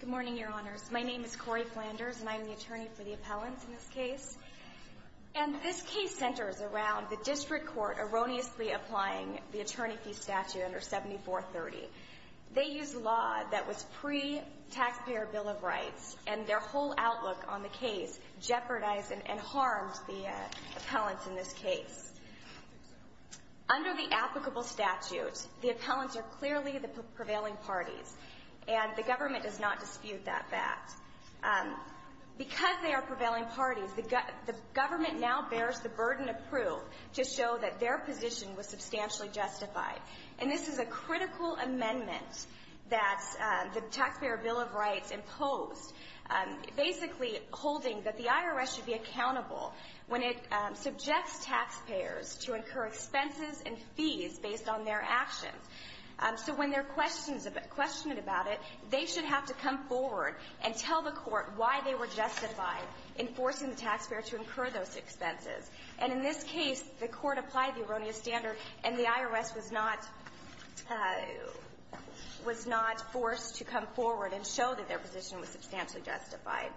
Good morning, Your Honors. My name is Cori Flanders, and I am the attorney for the appellants in this case. And this case centers around the district court erroneously applying the attorney fee statute under 7430. They used law that was pre-taxpayer Bill of Rights, and their whole outlook on the case jeopardized and harmed the appellants in this case. Under the applicable statute, the appellants are clearly the prevailing parties, and the government does not dispute that fact. Because they are prevailing parties, the government now bears the burden of proof to show that their position was substantially justified. And this is a critical amendment that the taxpayer Bill of Rights imposed, basically holding that the IRS should be accountable when it subjects taxpayers to incur expenses and fees based on their actions. So when they're questioned about it, they should have to come forward and tell the court why they were justified in forcing the taxpayer to incur those expenses. And in this case, the court applied the erroneous standard, and the IRS was not forced to come forward and show that their position was substantially justified.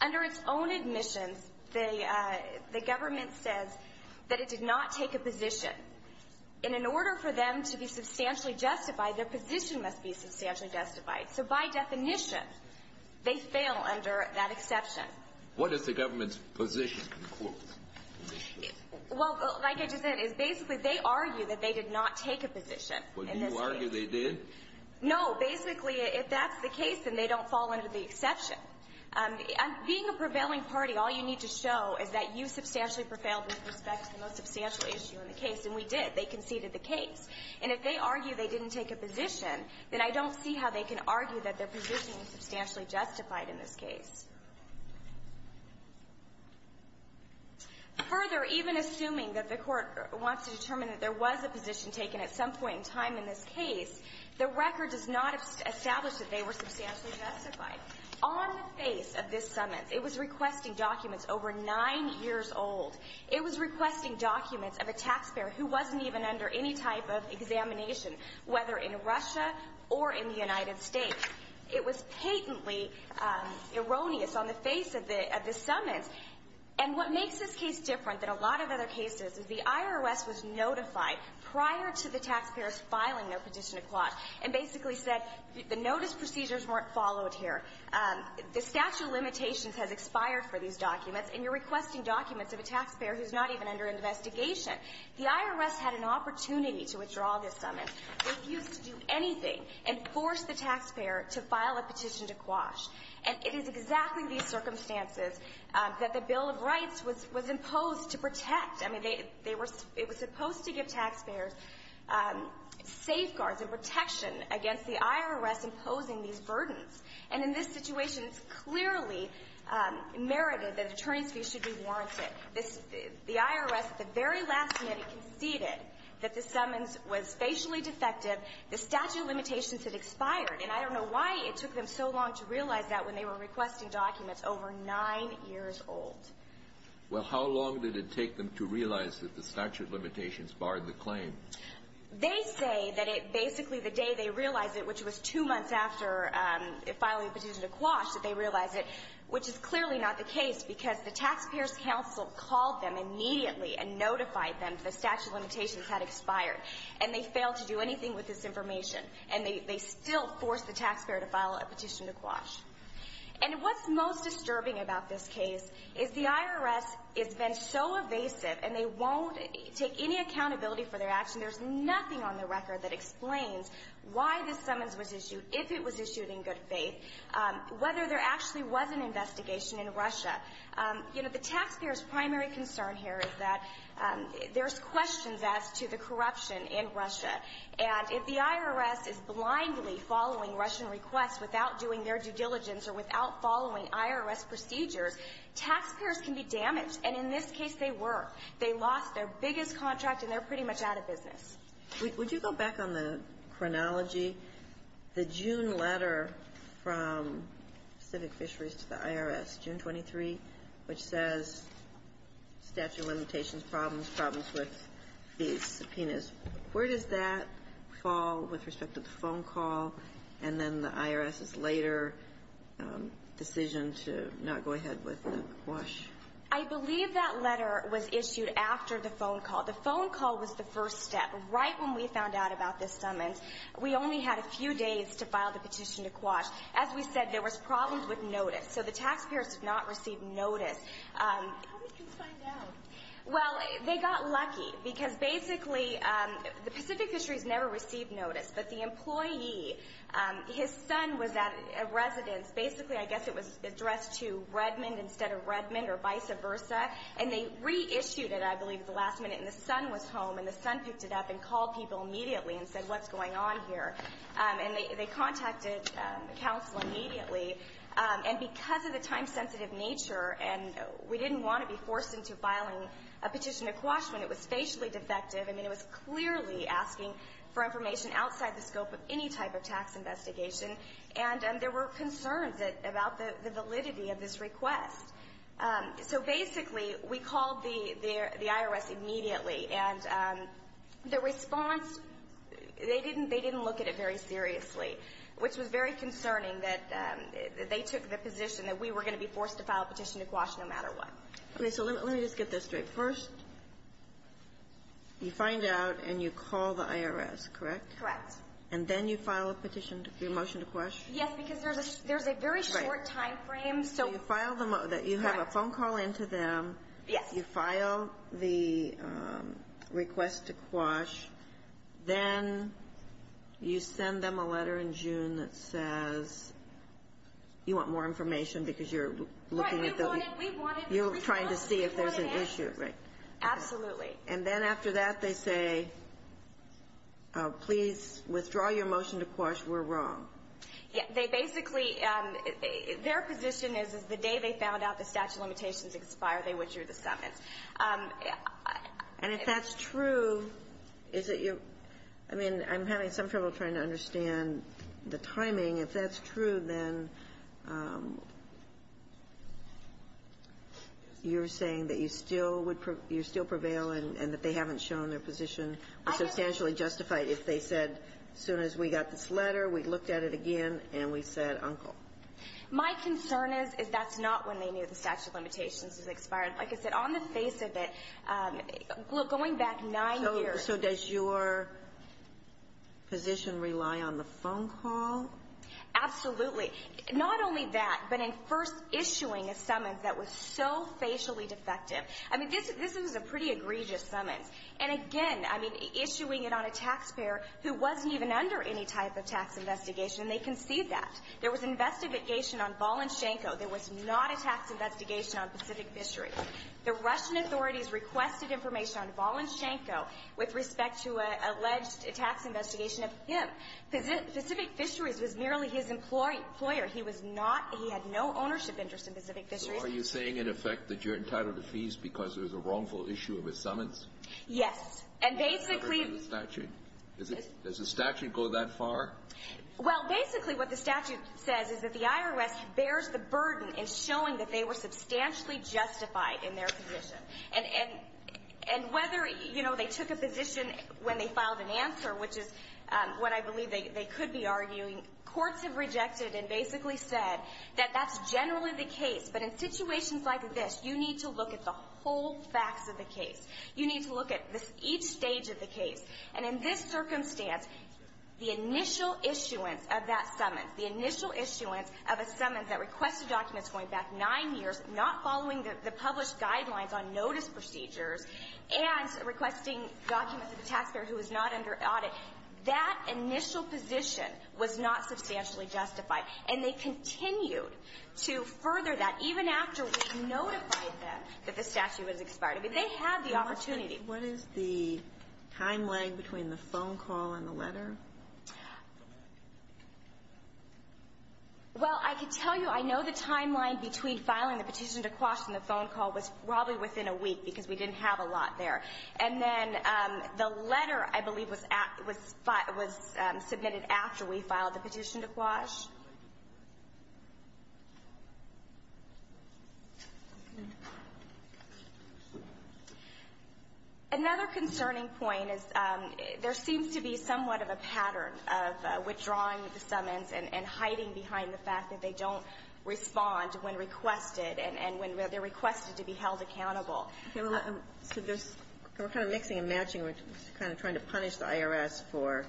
Under its own admissions, the government says that it did not take a position. And in order for them to be substantially justified, their position must be substantially justified. So by definition, they fail under that exception. What does the government's position conclude? Well, like I just said, it's basically they argue that they did not take a position in this case. Well, do you argue they did? No. Basically, if that's the case, then they don't fall under the exception. Being a prevailing party, all you need to show is that you substantially prevailed with respect to the most substantial issue in the case, and we did. They conceded the case. And if they argue they didn't take a position, then I don't see how they can argue that their position was substantially justified in this case. And what makes this case different than a lot of other cases is the IRS was notified prior to the taxpayers filing their petition to quash and basically said, the notice procedures weren't followed here. The statute of limitations has expired for these documents, and you're requesting documents of a taxpayer who's not even under investigation. The IRS had an opportunity to withdraw this summons, refused to do anything, and forced the taxpayer to file a petition to quash. And it is exactly these circumstances that the Bill of Rights was imposed to protect. I mean, they were supposed to give taxpayers safeguards and protection against the IRS imposing these burdens. And in this situation, it's clearly merited that attorney's fees should be warranted. The IRS, at the very last minute, conceded that the summons was facially defective. The statute of limitations had expired. And I don't know why it took them so long to realize that when they were requesting documents over 9 years old. Well, how long did it take them to realize that the statute of limitations barred the claim? They say that it basically, the day they realized it, which was two months after filing a petition to quash, that they realized it, which is clearly not the case, because the taxpayers' counsel called them immediately and notified them that the statute of limitations had expired. And they failed to do anything with this information. And they still forced the taxpayer to file a petition to quash. And what's most disturbing about this case is the IRS has been so evasive, and they won't take any accountability for their action. There's nothing on the record that explains why this summons was issued, if it was issued in good faith, whether there actually was an investigation in Russia. You know, the taxpayer's primary concern here is that there's questions as to the corruption in Russia. And if the IRS is blindly following Russian requests without doing their due diligence or without following IRS procedures, taxpayers can be damaged. And in this case, they were. They lost their biggest contract, and they're pretty much out of business. Would you go back on the chronology? The June letter from Pacific Fisheries to the IRS, June 23, which says statute of limitations, problems, problems with these subpoenas. Where does that fall with respect to the phone call, and then the IRS's later decision to not go ahead with the quash? I believe that letter was issued after the phone call. The phone call was the first step. Right when we found out about this summons, we only had a few days to file the petition to quash. As we said, there was problems with notice. So the taxpayers did not receive notice. How did you find out? Well, they got lucky. Because basically, the Pacific Fisheries never received notice. But the employee, his son was at a residence. Basically, I guess it was addressed to Redmond instead of Redmond or vice versa. And they reissued it, I believe, at the last minute. And the son was home, and the son picked it up and called people immediately and said, what's going on here? And they contacted the council immediately. And because of the time-sensitive nature, and we didn't want to be forced into filing a petition to quash when it was facially defective, I mean, it was clearly asking for information outside the scope of any type of tax investigation. And there were concerns about the validity of this request. So basically, we called the IRS immediately. And the response, they didn't look at it very seriously, which was very concerning that they took the position that we were going to be forced to file a petition to quash no matter what. Okay, so let me just get this straight. First, you find out and you call the IRS, correct? Correct. And then you file a petition, your motion to quash? Yes, because there's a very short time frame. So you have a phone call into them. Yes. You file the request to quash. Then you send them a letter in June that says, you want more information because you're looking at the- Right, we wanted, we wanted- You're trying to see if there's an issue, right? Absolutely. And then after that, they say, please withdraw your motion to quash. We're wrong. Yeah, they basically, their position is, they withdrew the summons. And if that's true, is it your, I mean, I'm having some trouble trying to understand the timing. If that's true, then you're saying that you still would, you still prevail and that they haven't shown their position was substantially justified if they said, as soon as we got this letter, we looked at it again, and we said, uncle. My concern is, is that's not when they knew the statute of limitations was expired. Like I said, on the face of it, going back nine years- So does your position rely on the phone call? Absolutely. Not only that, but in first issuing a summons that was so facially defective. I mean, this was a pretty egregious summons. And again, I mean, issuing it on a taxpayer who wasn't even under any type of tax investigation, and they concede that. There was investigation on Balenchenko. There was not a tax investigation on Pacific Fisheries. The Russian authorities requested information on Balenchenko with respect to an alleged tax investigation of him. Pacific Fisheries was merely his employer. He was not, he had no ownership interest in Pacific Fisheries. So are you saying, in effect, that you're entitled to fees because there was a wrongful issue of his summons? Yes. And basically- Does the statute go that far? Well, basically what the statute says is that the IRS bears the burden in showing that they were substantially justified in their position. And whether, you know, they took a position when they filed an answer, which is what I believe they could be arguing, courts have rejected and basically said that that's generally the case. But in situations like this, you need to look at the whole facts of the case. You need to look at each stage of the case. And in this circumstance, the initial issuance of that summons, the initial issuance of a summons that requested documents going back nine years, not following the published guidelines on notice procedures, and requesting documents of the taxpayer who was not under audit, that initial position was not substantially justified. And they continued to further that even after we notified them that the statute was expired. I mean, they had the opportunity. What is the timeline between the phone call and the letter? Well, I can tell you, I know the timeline between filing the petition to Quash and the phone call was probably within a week because we didn't have a lot there. And then the letter, I believe, was submitted after we filed the petition to Quash. Another concerning point is there seems to be somewhat of a pattern of withdrawing the summons and hiding behind the fact that they don't respond when requested and when they're requested to be held accountable. Okay. Well, so there's we're kind of mixing and matching. We're kind of trying to punish the IRS for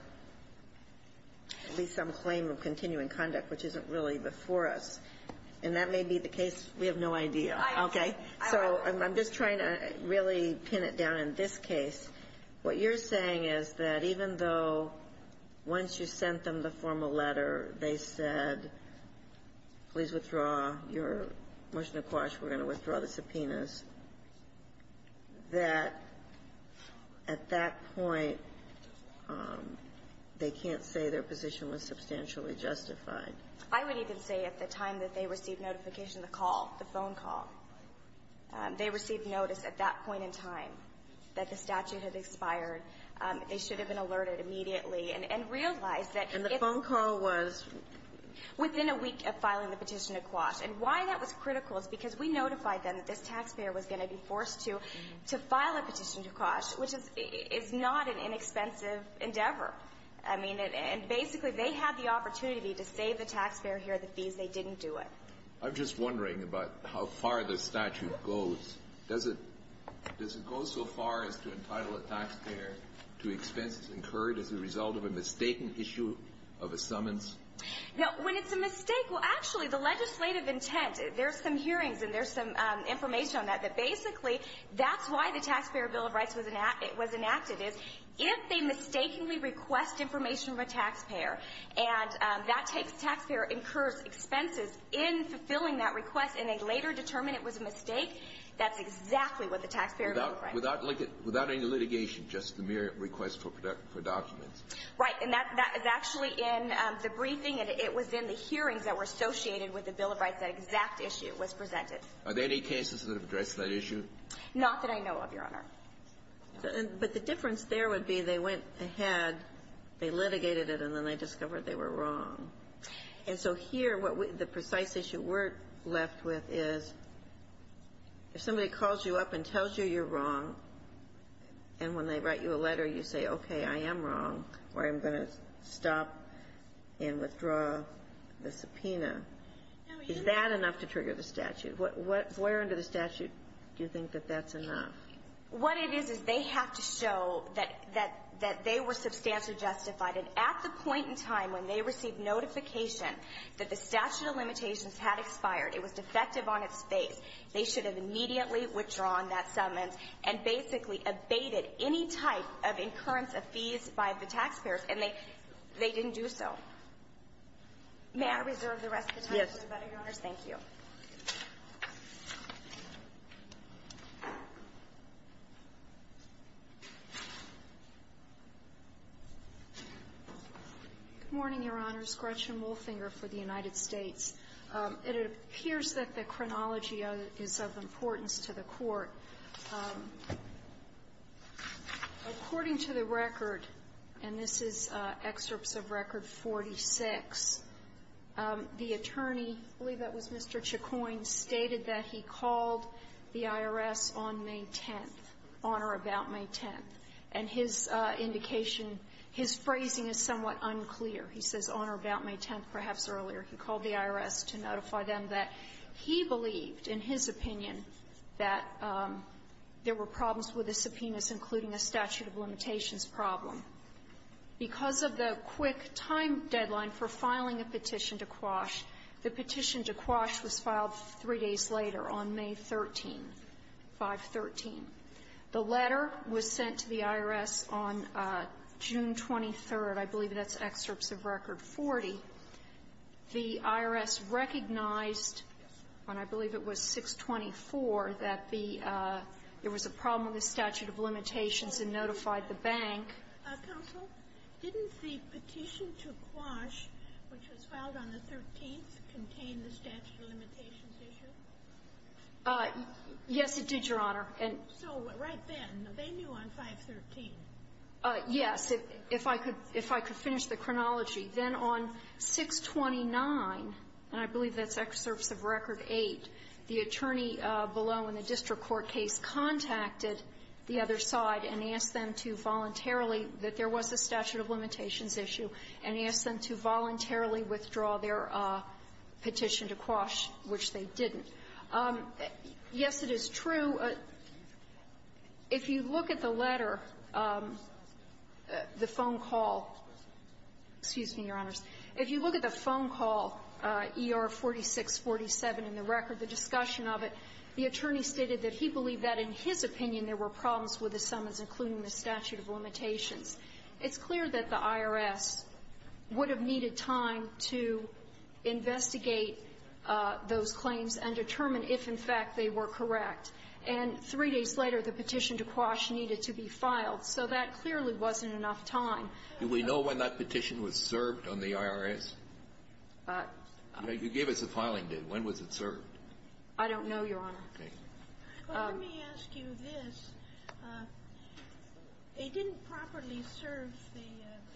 at least some claim of continuing conduct, which isn't really before us. And that may be the case. We have no idea. Okay. So I'm just trying to really pin it down in this case. What you're saying is that even though once you sent them the formal letter, they said, please withdraw your motion to Quash, we're going to withdraw the subpoenas, that at that point, they can't say their position was substantially justified. I would even say at the time that they received notification of the call, the phone call, they received notice at that point in time that the statute had expired. They should have been alerted immediately and realized that if- And the phone call was? Within a week of filing the petition to Quash. And why that was critical is because we notified them that this taxpayer was going to be forced to file a petition to Quash, which is not an inexpensive endeavor. I mean, and basically, they had the opportunity to save the taxpayer here the fees. They didn't do it. I'm just wondering about how far the statute goes. Does it go so far as to entitle a taxpayer to expenses incurred as a result of a mistaken issue of a summons? Now, when it's a mistake, well, actually, the legislative intent, there's some hearings and there's some information on that, that basically, that's why the Taxpayer Bill of information from a taxpayer, and that taxpayer incurs expenses in fulfilling that request, and they later determine it was a mistake, that's exactly what the Taxpayer Bill of Right. Without any litigation, just the mere request for documents. Right. And that is actually in the briefing, and it was in the hearings that were associated with the Bill of Rights, that exact issue was presented. Are there any cases that have addressed that issue? Not that I know of, Your Honor. But the difference there would be they went ahead, they litigated it, and then they discovered they were wrong. And so here, what the precise issue we're left with is if somebody calls you up and tells you you're wrong, and when they write you a letter, you say, okay, I am wrong, or I'm going to stop and withdraw the subpoena, is that enough to trigger the statute? Where under the statute do you think that that's enough? What it is, is they have to show that they were substantially justified, and at the point in time when they received notification that the statute of limitations had expired, it was defective on its face, they should have immediately withdrawn that summons, and basically abated any type of incurrence of fees by the taxpayers, and they didn't do so. May I reserve the rest of the time? Yes. Thank you. Good morning, Your Honors. Gretchen Wolfinger for the United States. It appears that the chronology is of importance to the Court. According to the record, and this is excerpts of Record 46, the attorney, I believe that was Mr. Chacoin, stated that he called the IRS on May 10th, on or about May 10th. And his indication, his phrasing is somewhat unclear. He says on or about May 10th, perhaps earlier. He called the IRS to notify them that he believed, in his opinion, that there were problems with the subpoenas, including a statute of limitations problem. Because of the quick time deadline for filing a petition to Quash, the petition to Quash was filed three days later, on May 13th, 513. The letter was sent to the IRS on June 23rd. I believe that's excerpts of Record 40. The IRS recognized on, I believe it was 624, that the there was a problem with a statute of limitations and notified the bank. Counsel, didn't the petition to Quash, which was filed on the 13th, contain the statute of limitations issue? Yes, it did, Your Honor. So right then, they knew on 513. Yes. If I could finish the chronology. Then on 629, and I believe that's excerpts of Record 8, the attorney below in the record, the discussion of it, the attorney stated that he believed that, in his opinion, there were problems with the subpoenas, including the statute of limitations issue, and asked them to voluntarily withdraw their petition to Quash, which they didn't. Yes, it is true. If you look at the letter, the phone call ER-4647 in the It's clear that the IRS would have needed time to investigate those claims and determine if, in fact, they were correct. And three days later, the petition to Quash needed to be filed. So that clearly wasn't enough time. Do we know when that petition was served on the IRS? You gave us a filing date. When was it served? I don't know, Your Honor. Okay. Well, let me ask you this. It didn't properly serve the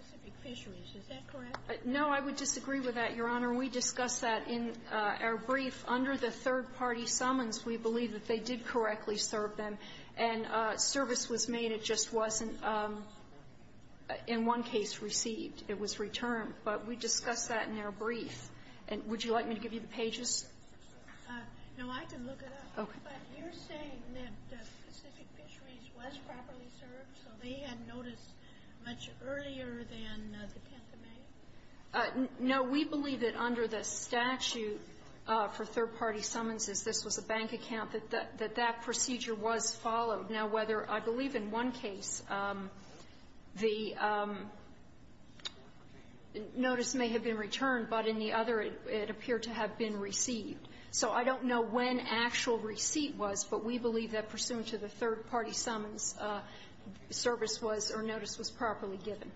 Pacific Fisheries. Is that correct? No, I would disagree with that, Your Honor. We discussed that in our brief. Under the third-party summons, we believe that they did correctly serve them. And service was made. It just wasn't, in one case, received. It was returned. But we discussed that in our brief. And would you like me to give you the pages? No, I can look it up. Okay. But you're saying that Pacific Fisheries was properly served, so they had notice much earlier than the 10th of May? No. We believe that under the statute for third-party summonses, this was a bank account, that that procedure was followed. Now, whether — I believe in one case, the notice may have been returned, but in the other, it appeared to have been received. So I don't know when actual receipt was, but we believe that pursuant to the third-party summons, service was — or notice was properly given.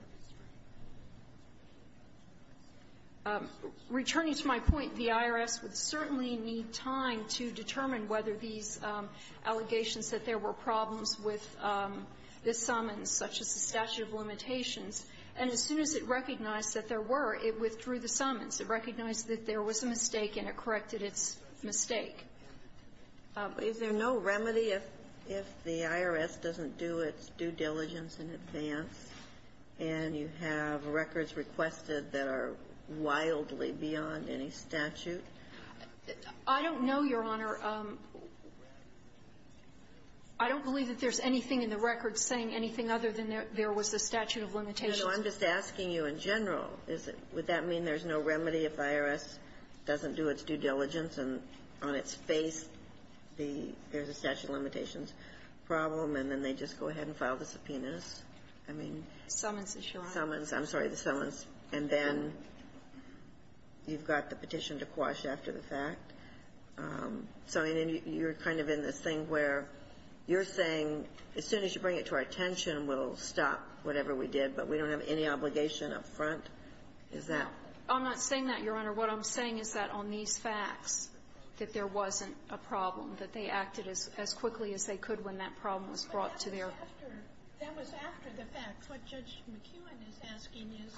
Returning to my point, the IRS would certainly need time to determine whether these allegations that there were problems with the summons, such as the statute of limitations. And as soon as it recognized that there was a mistake, and it corrected its mistake. Is there no remedy if the IRS doesn't do its due diligence in advance, and you have records requested that are wildly beyond any statute? I don't know, Your Honor. I don't believe that there's anything in the record saying anything other than there was a statute of limitations. I'm just asking you in general, is it — would that mean there's no remedy if the IRS doesn't do its due diligence, and on its face, the — there's a statute of limitations problem, and then they just go ahead and file the subpoenas? I mean — Summons, Your Honor. Summons. I'm sorry, the summons. And then you've got the petition to quash after the fact. So you're kind of in this thing where you're saying, as soon as you bring it to our I don't have any obligation up front? Is that — I'm not saying that, Your Honor. What I'm saying is that on these facts, that there wasn't a problem, that they acted as quickly as they could when that problem was brought to their — That was after the fact. What Judge McEwen is asking is,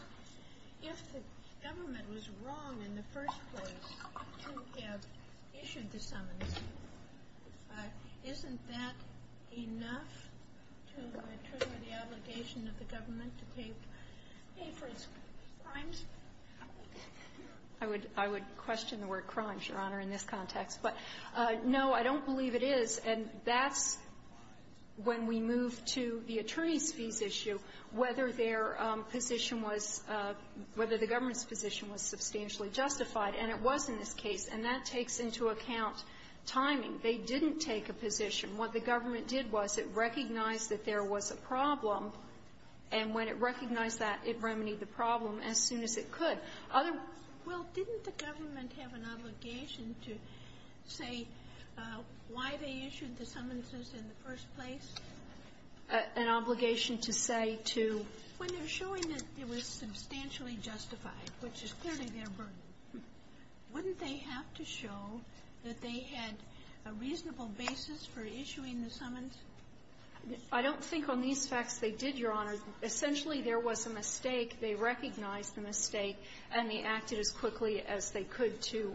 if the government was wrong in the first place to have issued the summons, isn't that enough to trigger the obligation of the government to pay — pay for its crimes? I would — I would question the word crimes, Your Honor, in this context. But, no, I don't believe it is. And that's when we move to the attorneys' fees issue, whether their position was — whether the government's position was substantially justified. And it was in this case. And that takes into account timing. They didn't take a position. What the government did was it recognized that there was a problem. And when it recognized that, it remedied the problem as soon as it could. Other — Well, didn't the government have an obligation to say why they issued the summonses in the first place? An obligation to say to — When they're showing that it was substantially justified, which is clearly their burden, wouldn't they have to show that they had a reasonable basis for issuing the summons? I don't think on these facts they did, Your Honor. Essentially, there was a mistake. They recognized the mistake, and they acted as quickly as they could to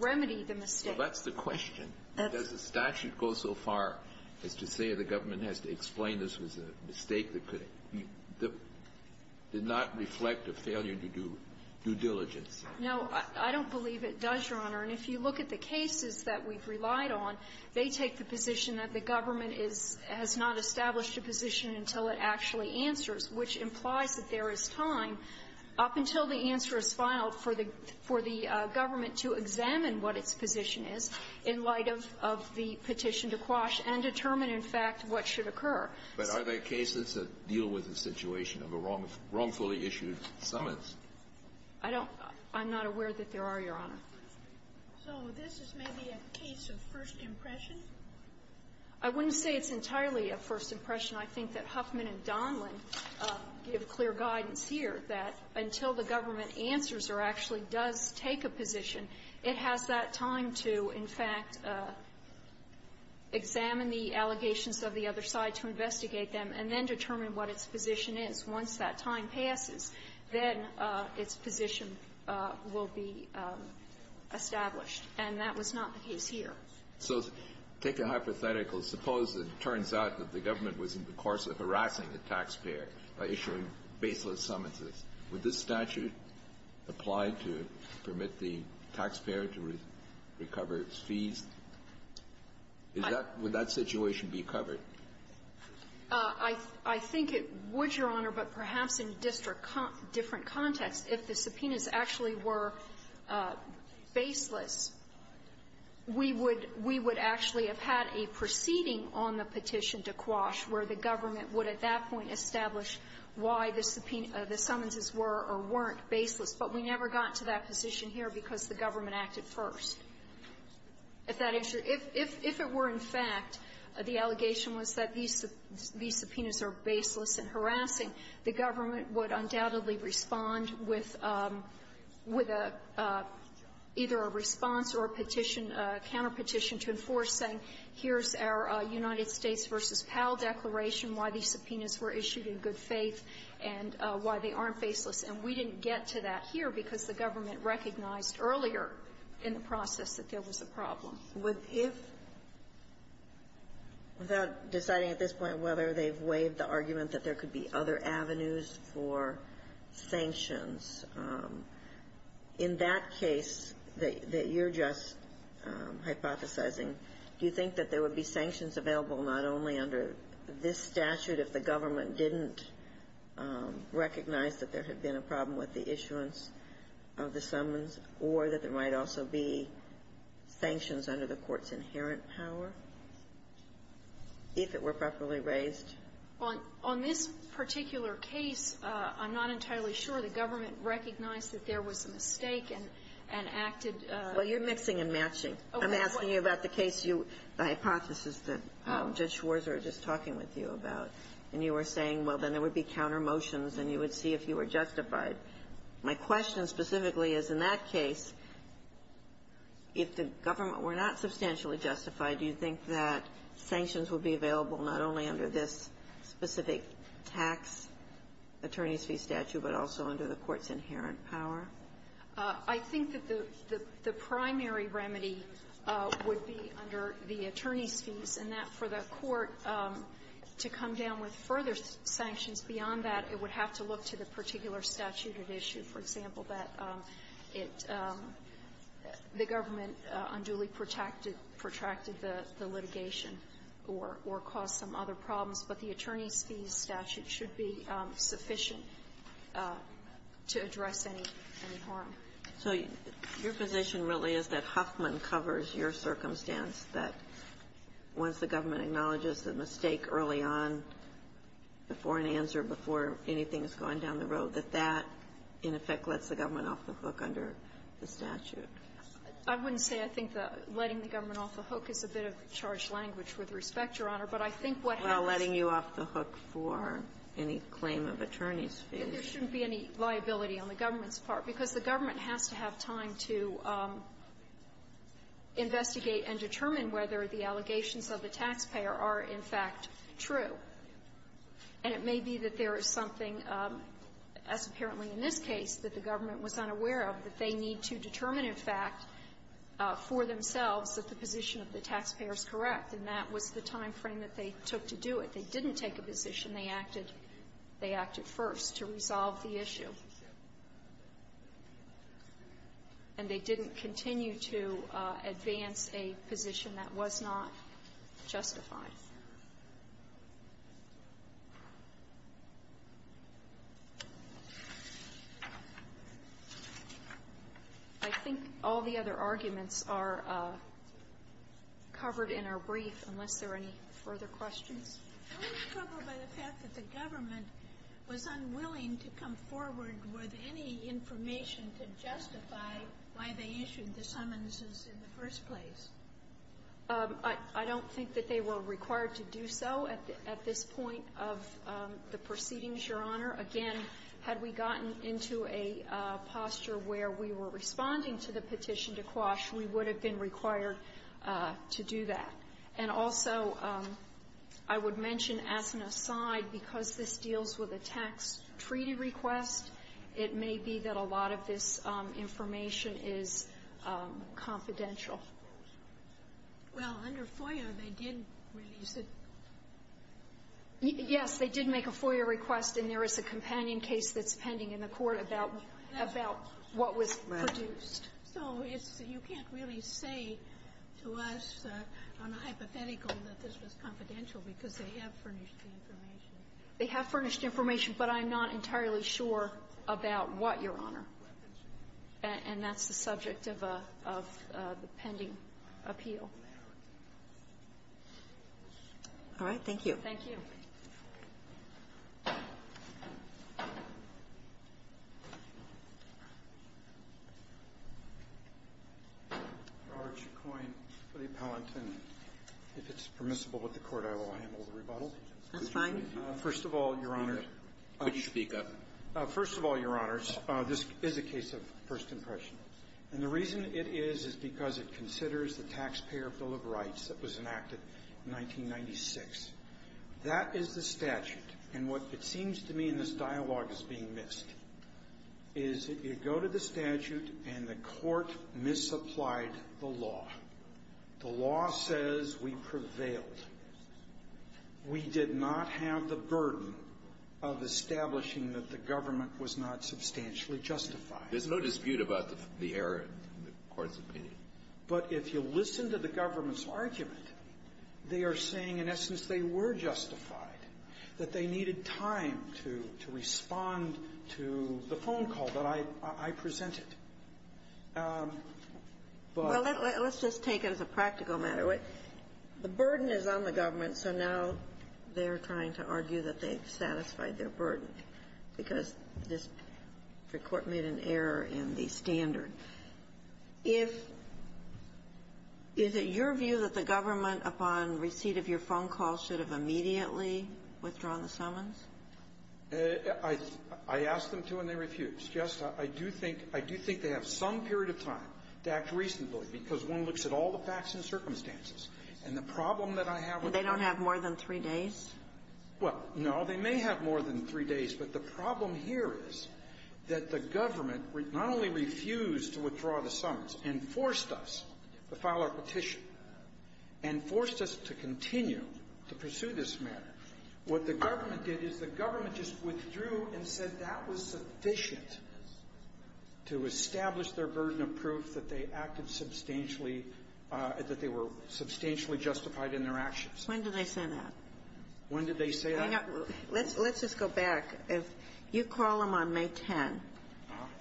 remedy the mistake. Well, that's the question. Does the statute go so far as to say the government has to explain this was a mistake that could — did not reflect a failure to do due diligence? No. I don't believe it does, Your Honor. And if you look at the cases that we've relied on, they take the position that the government is — has not established a position until it actually answers, which implies that there is time up until the answer is filed for the — for the government to examine what its position is in light of — of the petition to quash and determine, in fact, what should occur. But are there cases that deal with the situation of a wrongfully issued summons? I don't — I'm not aware that there are, Your Honor. So this is maybe a case of first impression? I wouldn't say it's entirely a first impression. I think that Huffman and Donlan give clear guidance here that until the government answers or actually does take a position, it has that time to, in fact, examine the allegations of the other side to investigate them and then determine what its position will be established. And that was not the case here. So take a hypothetical. Suppose it turns out that the government was in the course of harassing the taxpayer by issuing baseless summonses. Would this statute apply to permit the taxpayer to recover its fees? Is that — would that situation be covered? I — I think it would, Your Honor, but perhaps in district — different contexts. If the subpoenas actually were baseless, we would — we would actually have had a proceeding on the petition to Quash where the government would at that point establish why the subpoena — the summonses were or weren't baseless. But we never got to that position here because the government acted first. If that — if it were, in fact, the allegation was that these subpoenas are baseless and harassing, the government would undoubtedly respond with — with either a response or a petition, a counterpetition to enforce, saying, here's our United States v. Powell declaration, why these subpoenas were issued in good faith, and why they aren't baseless. And we didn't get to that here because the government recognized earlier in the process that there was a problem. If — without deciding at this point whether they've waived the argument that there could be other avenues for sanctions, in that case that — that you're just hypothesizing, do you think that there would be sanctions available not only under this statute if the government didn't recognize that there had been a problem with the issuance of the summons, or that there might also be sanctions under the Court's inherent power, if it were properly raised? On — on this particular case, I'm not entirely sure the government recognized that there was a mistake and — and acted — Well, you're mixing and matching. I'm asking you about the case you — the hypothesis that Judge Schwarzer was just talking with you about. And you were saying, well, then there would be countermotions, and you would see if you were justified. My question specifically is, in that case, if the government were not substantially justified, do you think that sanctions would be available not only under this specific tax attorney's fee statute, but also under the Court's inherent power? I think that the — the primary remedy would be under the attorney's fees, and that for the Court to come down with further sanctions beyond that, it would have to look to the particular statute at issue. For example, that it — the government unduly protracted — protracted the litigation or — or caused some other problems. But the attorney's fees statute should be sufficient to address any — any harm. So your position really is that Huffman covers your circumstance, that once the government acknowledges a mistake early on, before an answer, before anything is going down the road, that that, in effect, lets the government off the hook under the statute? I wouldn't say I think the — letting the government off the hook is a bit of charged language, with respect, Your Honor. But I think what happens — Well, letting you off the hook for any claim of attorney's fees. There shouldn't be any liability on the government's part, because the government has to have time to investigate and determine whether the allegations of the taxpayer are, in fact, true. And it may be that there is something, as apparently in this case, that the government was unaware of, that they need to determine, in fact, for themselves that the position of the taxpayer is correct. And that was the timeframe that they took to do it. They didn't take a position. They acted — they acted first to resolve the issue. And they didn't continue to advance a position that was not justified. I think all the other arguments are covered in our brief, unless there are any further questions. I don't think that they were required to do so at this point of the proceedings, Your Honor. Again, had we gotten into a posture where we were responding to the petition to Quash, we would have been required to do that. And also, I would mention, as an aside, because this deals with a tax treaty request, it may be that a lot of this information is confidential. Well, under FOIA, they did release it. Yes. They did make a FOIA request, and there is a companion case that's pending in the court about — about what was produced. So it's — you can't really say to us on a hypothetical that this was confidential because they have furnished the information. They have furnished information, but I'm not entirely sure about what, Your Honor. And that's the subject of a — of the pending appeal. All right. Thank you. Thank you. Roberts, you're coined for the appellant. And if it's permissible with the Court, I will handle the rebuttal. That's fine. First of all, Your Honor — Would you speak up? First of all, Your Honors, this is a case of first impression. And the reason it is is because it considers the Taxpayer Bill of Rights that was enacted in 1996. That is the statute. And what it seems to me in this dialogue is being missed, is that you go to the statute and the Court misapplied the law. The law says we prevailed. We did not have the burden of establishing that the government was not substantially justified. There's no dispute about the error in the Court's opinion. But if you listen to the government's argument, they are saying, in essence, they were justified, that they needed time to — to respond to the phone call that I — I presented. But — Well, let's just take it as a practical matter. The burden is on the government, so now they're trying to argue that they've satisfied their burden because this Court made an error in the standard. If — is it your view that the government, upon receipt of your phone call, should have immediately withdrawn the summons? I — I asked them to, and they refused. Just — I do think — I do think they have some period of time to act reasonably, because one looks at all the facts and circumstances. And the problem that I have with — They don't have more than three days? Well, no. They may have more than three days. But the problem here is that the government not only refused to withdraw the summons and forced us to file our petition and forced us to continue to pursue this matter, what the government did is the government just withdrew and said that was sufficient to establish their burden of proof that they acted substantially — that they were substantially justified in their actions. When did they say that? When did they say that? Let's just go back. If you call them on May 10th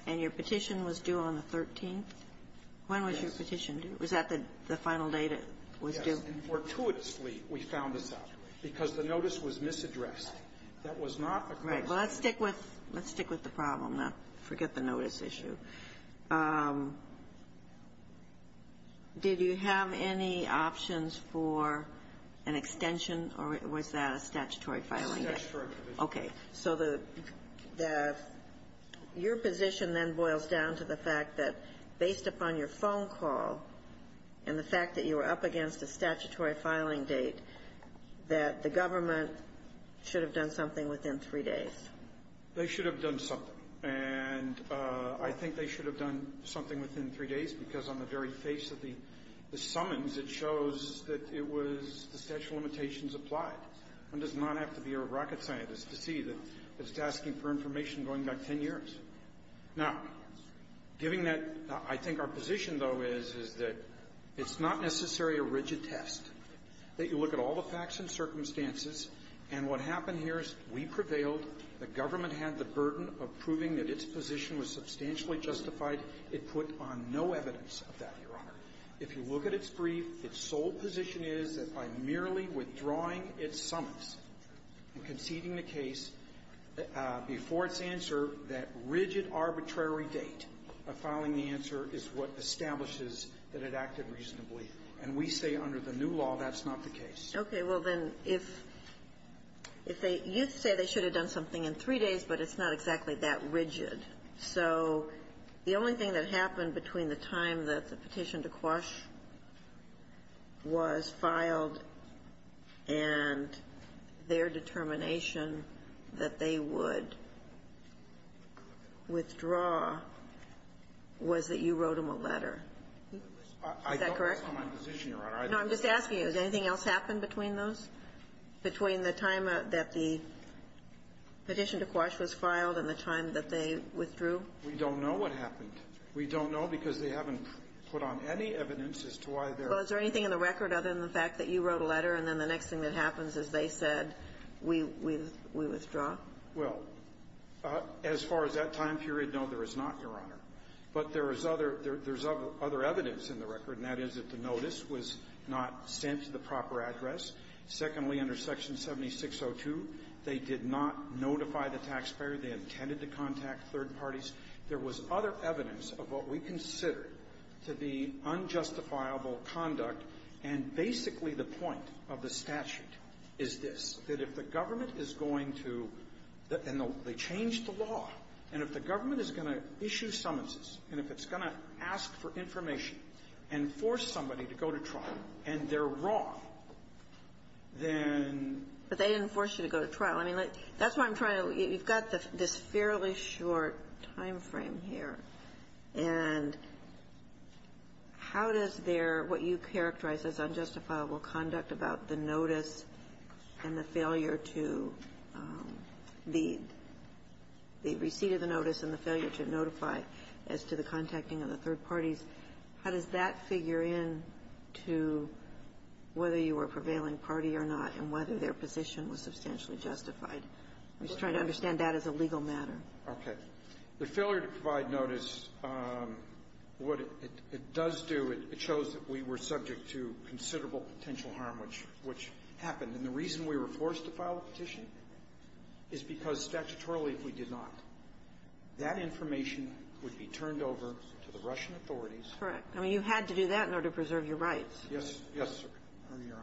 and your petition was due on the 13th, when was your petition due? Was that the final date it was due? Yes. And fortuitously, we found this out, because the notice was misaddressed. That was not a question. Right. Well, let's stick with — let's stick with the problem, not forget the notice issue. Did you have any options for an extension, or was that a statutory filing date? Yes, that's correct. Okay. So the — your position then boils down to the fact that, based upon your phone call and the fact that you were up against a statutory filing date, that the government should have done something within three days. They should have done something. And I think they should have done something within three days, because on the very face of the summons, it shows that it was — the statute of limitations applied. One does not have to be a rocket scientist to see that it's asking for information going back 10 years. Now, giving that — I think our position, though, is, is that it's not necessarily a rigid test, that you look at all the facts and circumstances, and what happened here is we prevailed. The government had the burden of proving that its position was substantially justified. It put on no evidence of that, Your Honor. If you look at its brief, its sole position is that by merely withdrawing its summons and conceding the case before its answer, that rigid arbitrary date of filing the answer is what establishes that it acted reasonably. And we say under the new law, that's not the case. Okay. Well, then, if they — you say they should have done something in three days, but it's not exactly that rigid. So the only thing that happened between the time that the petition to Quash was filed and their determination that they would withdraw was that you wrote them a letter. Is that correct? I don't know my position, Your Honor. I don't know my position. Did anything else happen between those, between the time that the petition to Quash was filed and the time that they withdrew? We don't know what happened. We don't know because they haven't put on any evidence as to why they're — Well, is there anything in the record other than the fact that you wrote a letter and then the next thing that happens is they said, we withdraw? Well, as far as that time period, no, there is not, Your Honor. But there is other — there's other evidence in the record, and that is that the notice was not sent to the proper address. Secondly, under Section 7602, they did not notify the taxpayer. They intended to contact third parties. There was other evidence of what we consider to be unjustifiable conduct. And basically, the point of the statute is this, that if the government is going to — and they changed the law. And if the government is going to issue summonses, and if it's going to ask for information and force somebody to go to trial, and they're wrong, then — But they didn't force you to go to trial. I mean, that's why I'm trying to — you've got this fairly short time frame here. And how does their — what you characterize as unjustifiable conduct about the notice and the failure to — the receipt of the notice and the failure to notify as to the protecting of the third parties, how does that figure in to whether you were a prevailing party or not, and whether their position was substantially justified? I'm just trying to understand that as a legal matter. Okay. The failure to provide notice, what it does do, it shows that we were subject to considerable potential harm, which — which happened. And the reason we were forced to file a petition is because statutorily we did not. That information would be turned over to the Russian authorities. Correct. I mean, you had to do that in order to preserve your rights. Yes. Yes, Your Honor.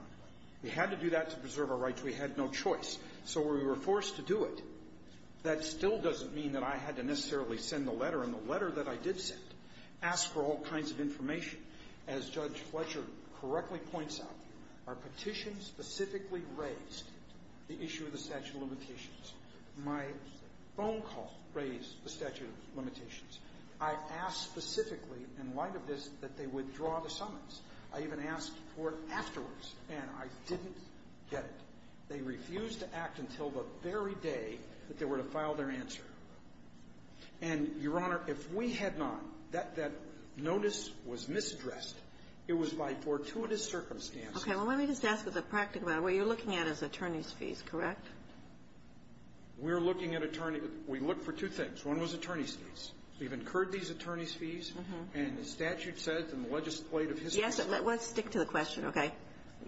We had to do that to preserve our rights. We had no choice. So we were forced to do it. That still doesn't mean that I had to necessarily send the letter. And the letter that I did send asked for all kinds of information. As Judge Fletcher correctly points out, our petition specifically raised the issue of the statute of limitations. My phone call raised the statute of limitations. I asked specifically in light of this that they withdraw the summons. I even asked for it afterwards, and I didn't get it. They refused to act until the very day that they were to file their answer. And, Your Honor, if we had not, that notice was misaddressed. It was by fortuitous circumstances. Okay. Well, let me just ask with a practical matter. What you're looking at is attorneys' fees, correct? We're looking at attorney we look for two things. One was attorney's fees. We've incurred these attorney's fees, and the statute said in the legislative history Yes, but let's stick to the question, okay?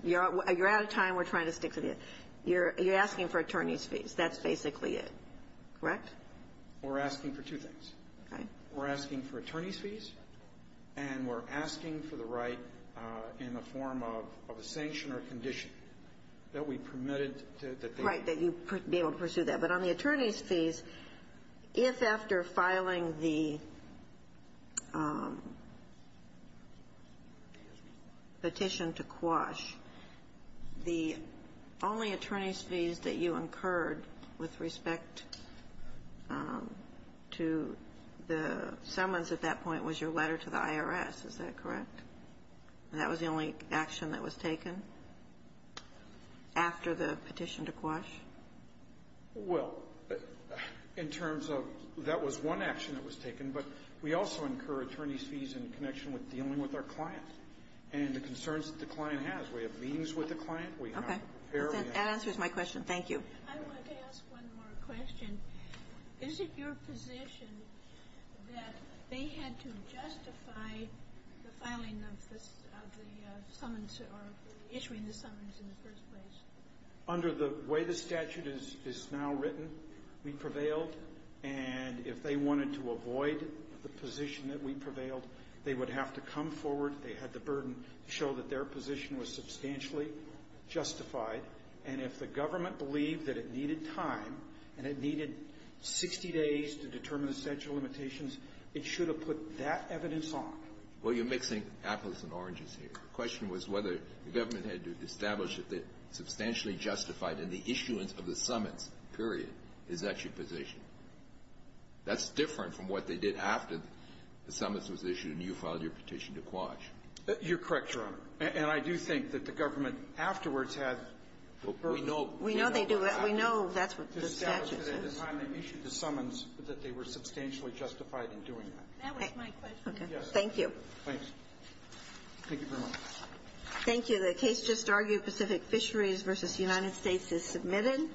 You're out of time. We're trying to stick to the you're you're asking for attorney's fees. That's basically it, correct? We're asking for two things. Okay. We're asking for attorney's fees, and we're asking for the right in the form of a sanction or condition that we permitted that they Right. That you be able to pursue that. But on the attorney's fees, if after filing the petition to quash, the only attorney's fees that you incurred with respect to the summons at that point was your letter to the IRS. Is that correct? That was the only action that was taken after the petition to quash? Well, in terms of that was one action that was taken, but we also incur attorney's fees in connection with dealing with our clients and the concerns that the client has. We have meetings with the client. Okay, that answers my question. Thank you. I wanted to ask one more question. Is it your position that they had to justify the filing of the summons or issuing the summons in the first place? Under the way the statute is now written, we prevailed. And if they wanted to avoid the position that we prevailed, they would have to come forward. They had the burden to show that their position was substantially justified. And if the government believed that it needed time and it needed 60 days to determine the statute of limitations, it should have put that evidence on. Well, you're mixing apples and oranges here. The question was whether the government had to establish that they substantially justified in the issuance of the summons, period. Is that your position? That's different from what they did after the summons was issued and you filed your petition to quash. You're correct, Your Honor. And I do think that the government afterwards had the burden. We know they do. We know that's what the statute says. To establish that at the time they issued the summons, that they were substantially justified in doing that. That was my question. Okay. Thank you. Thanks. Thank you very much. Thank you. The case just argued, Pacific Fisheries v. United States, is submitted.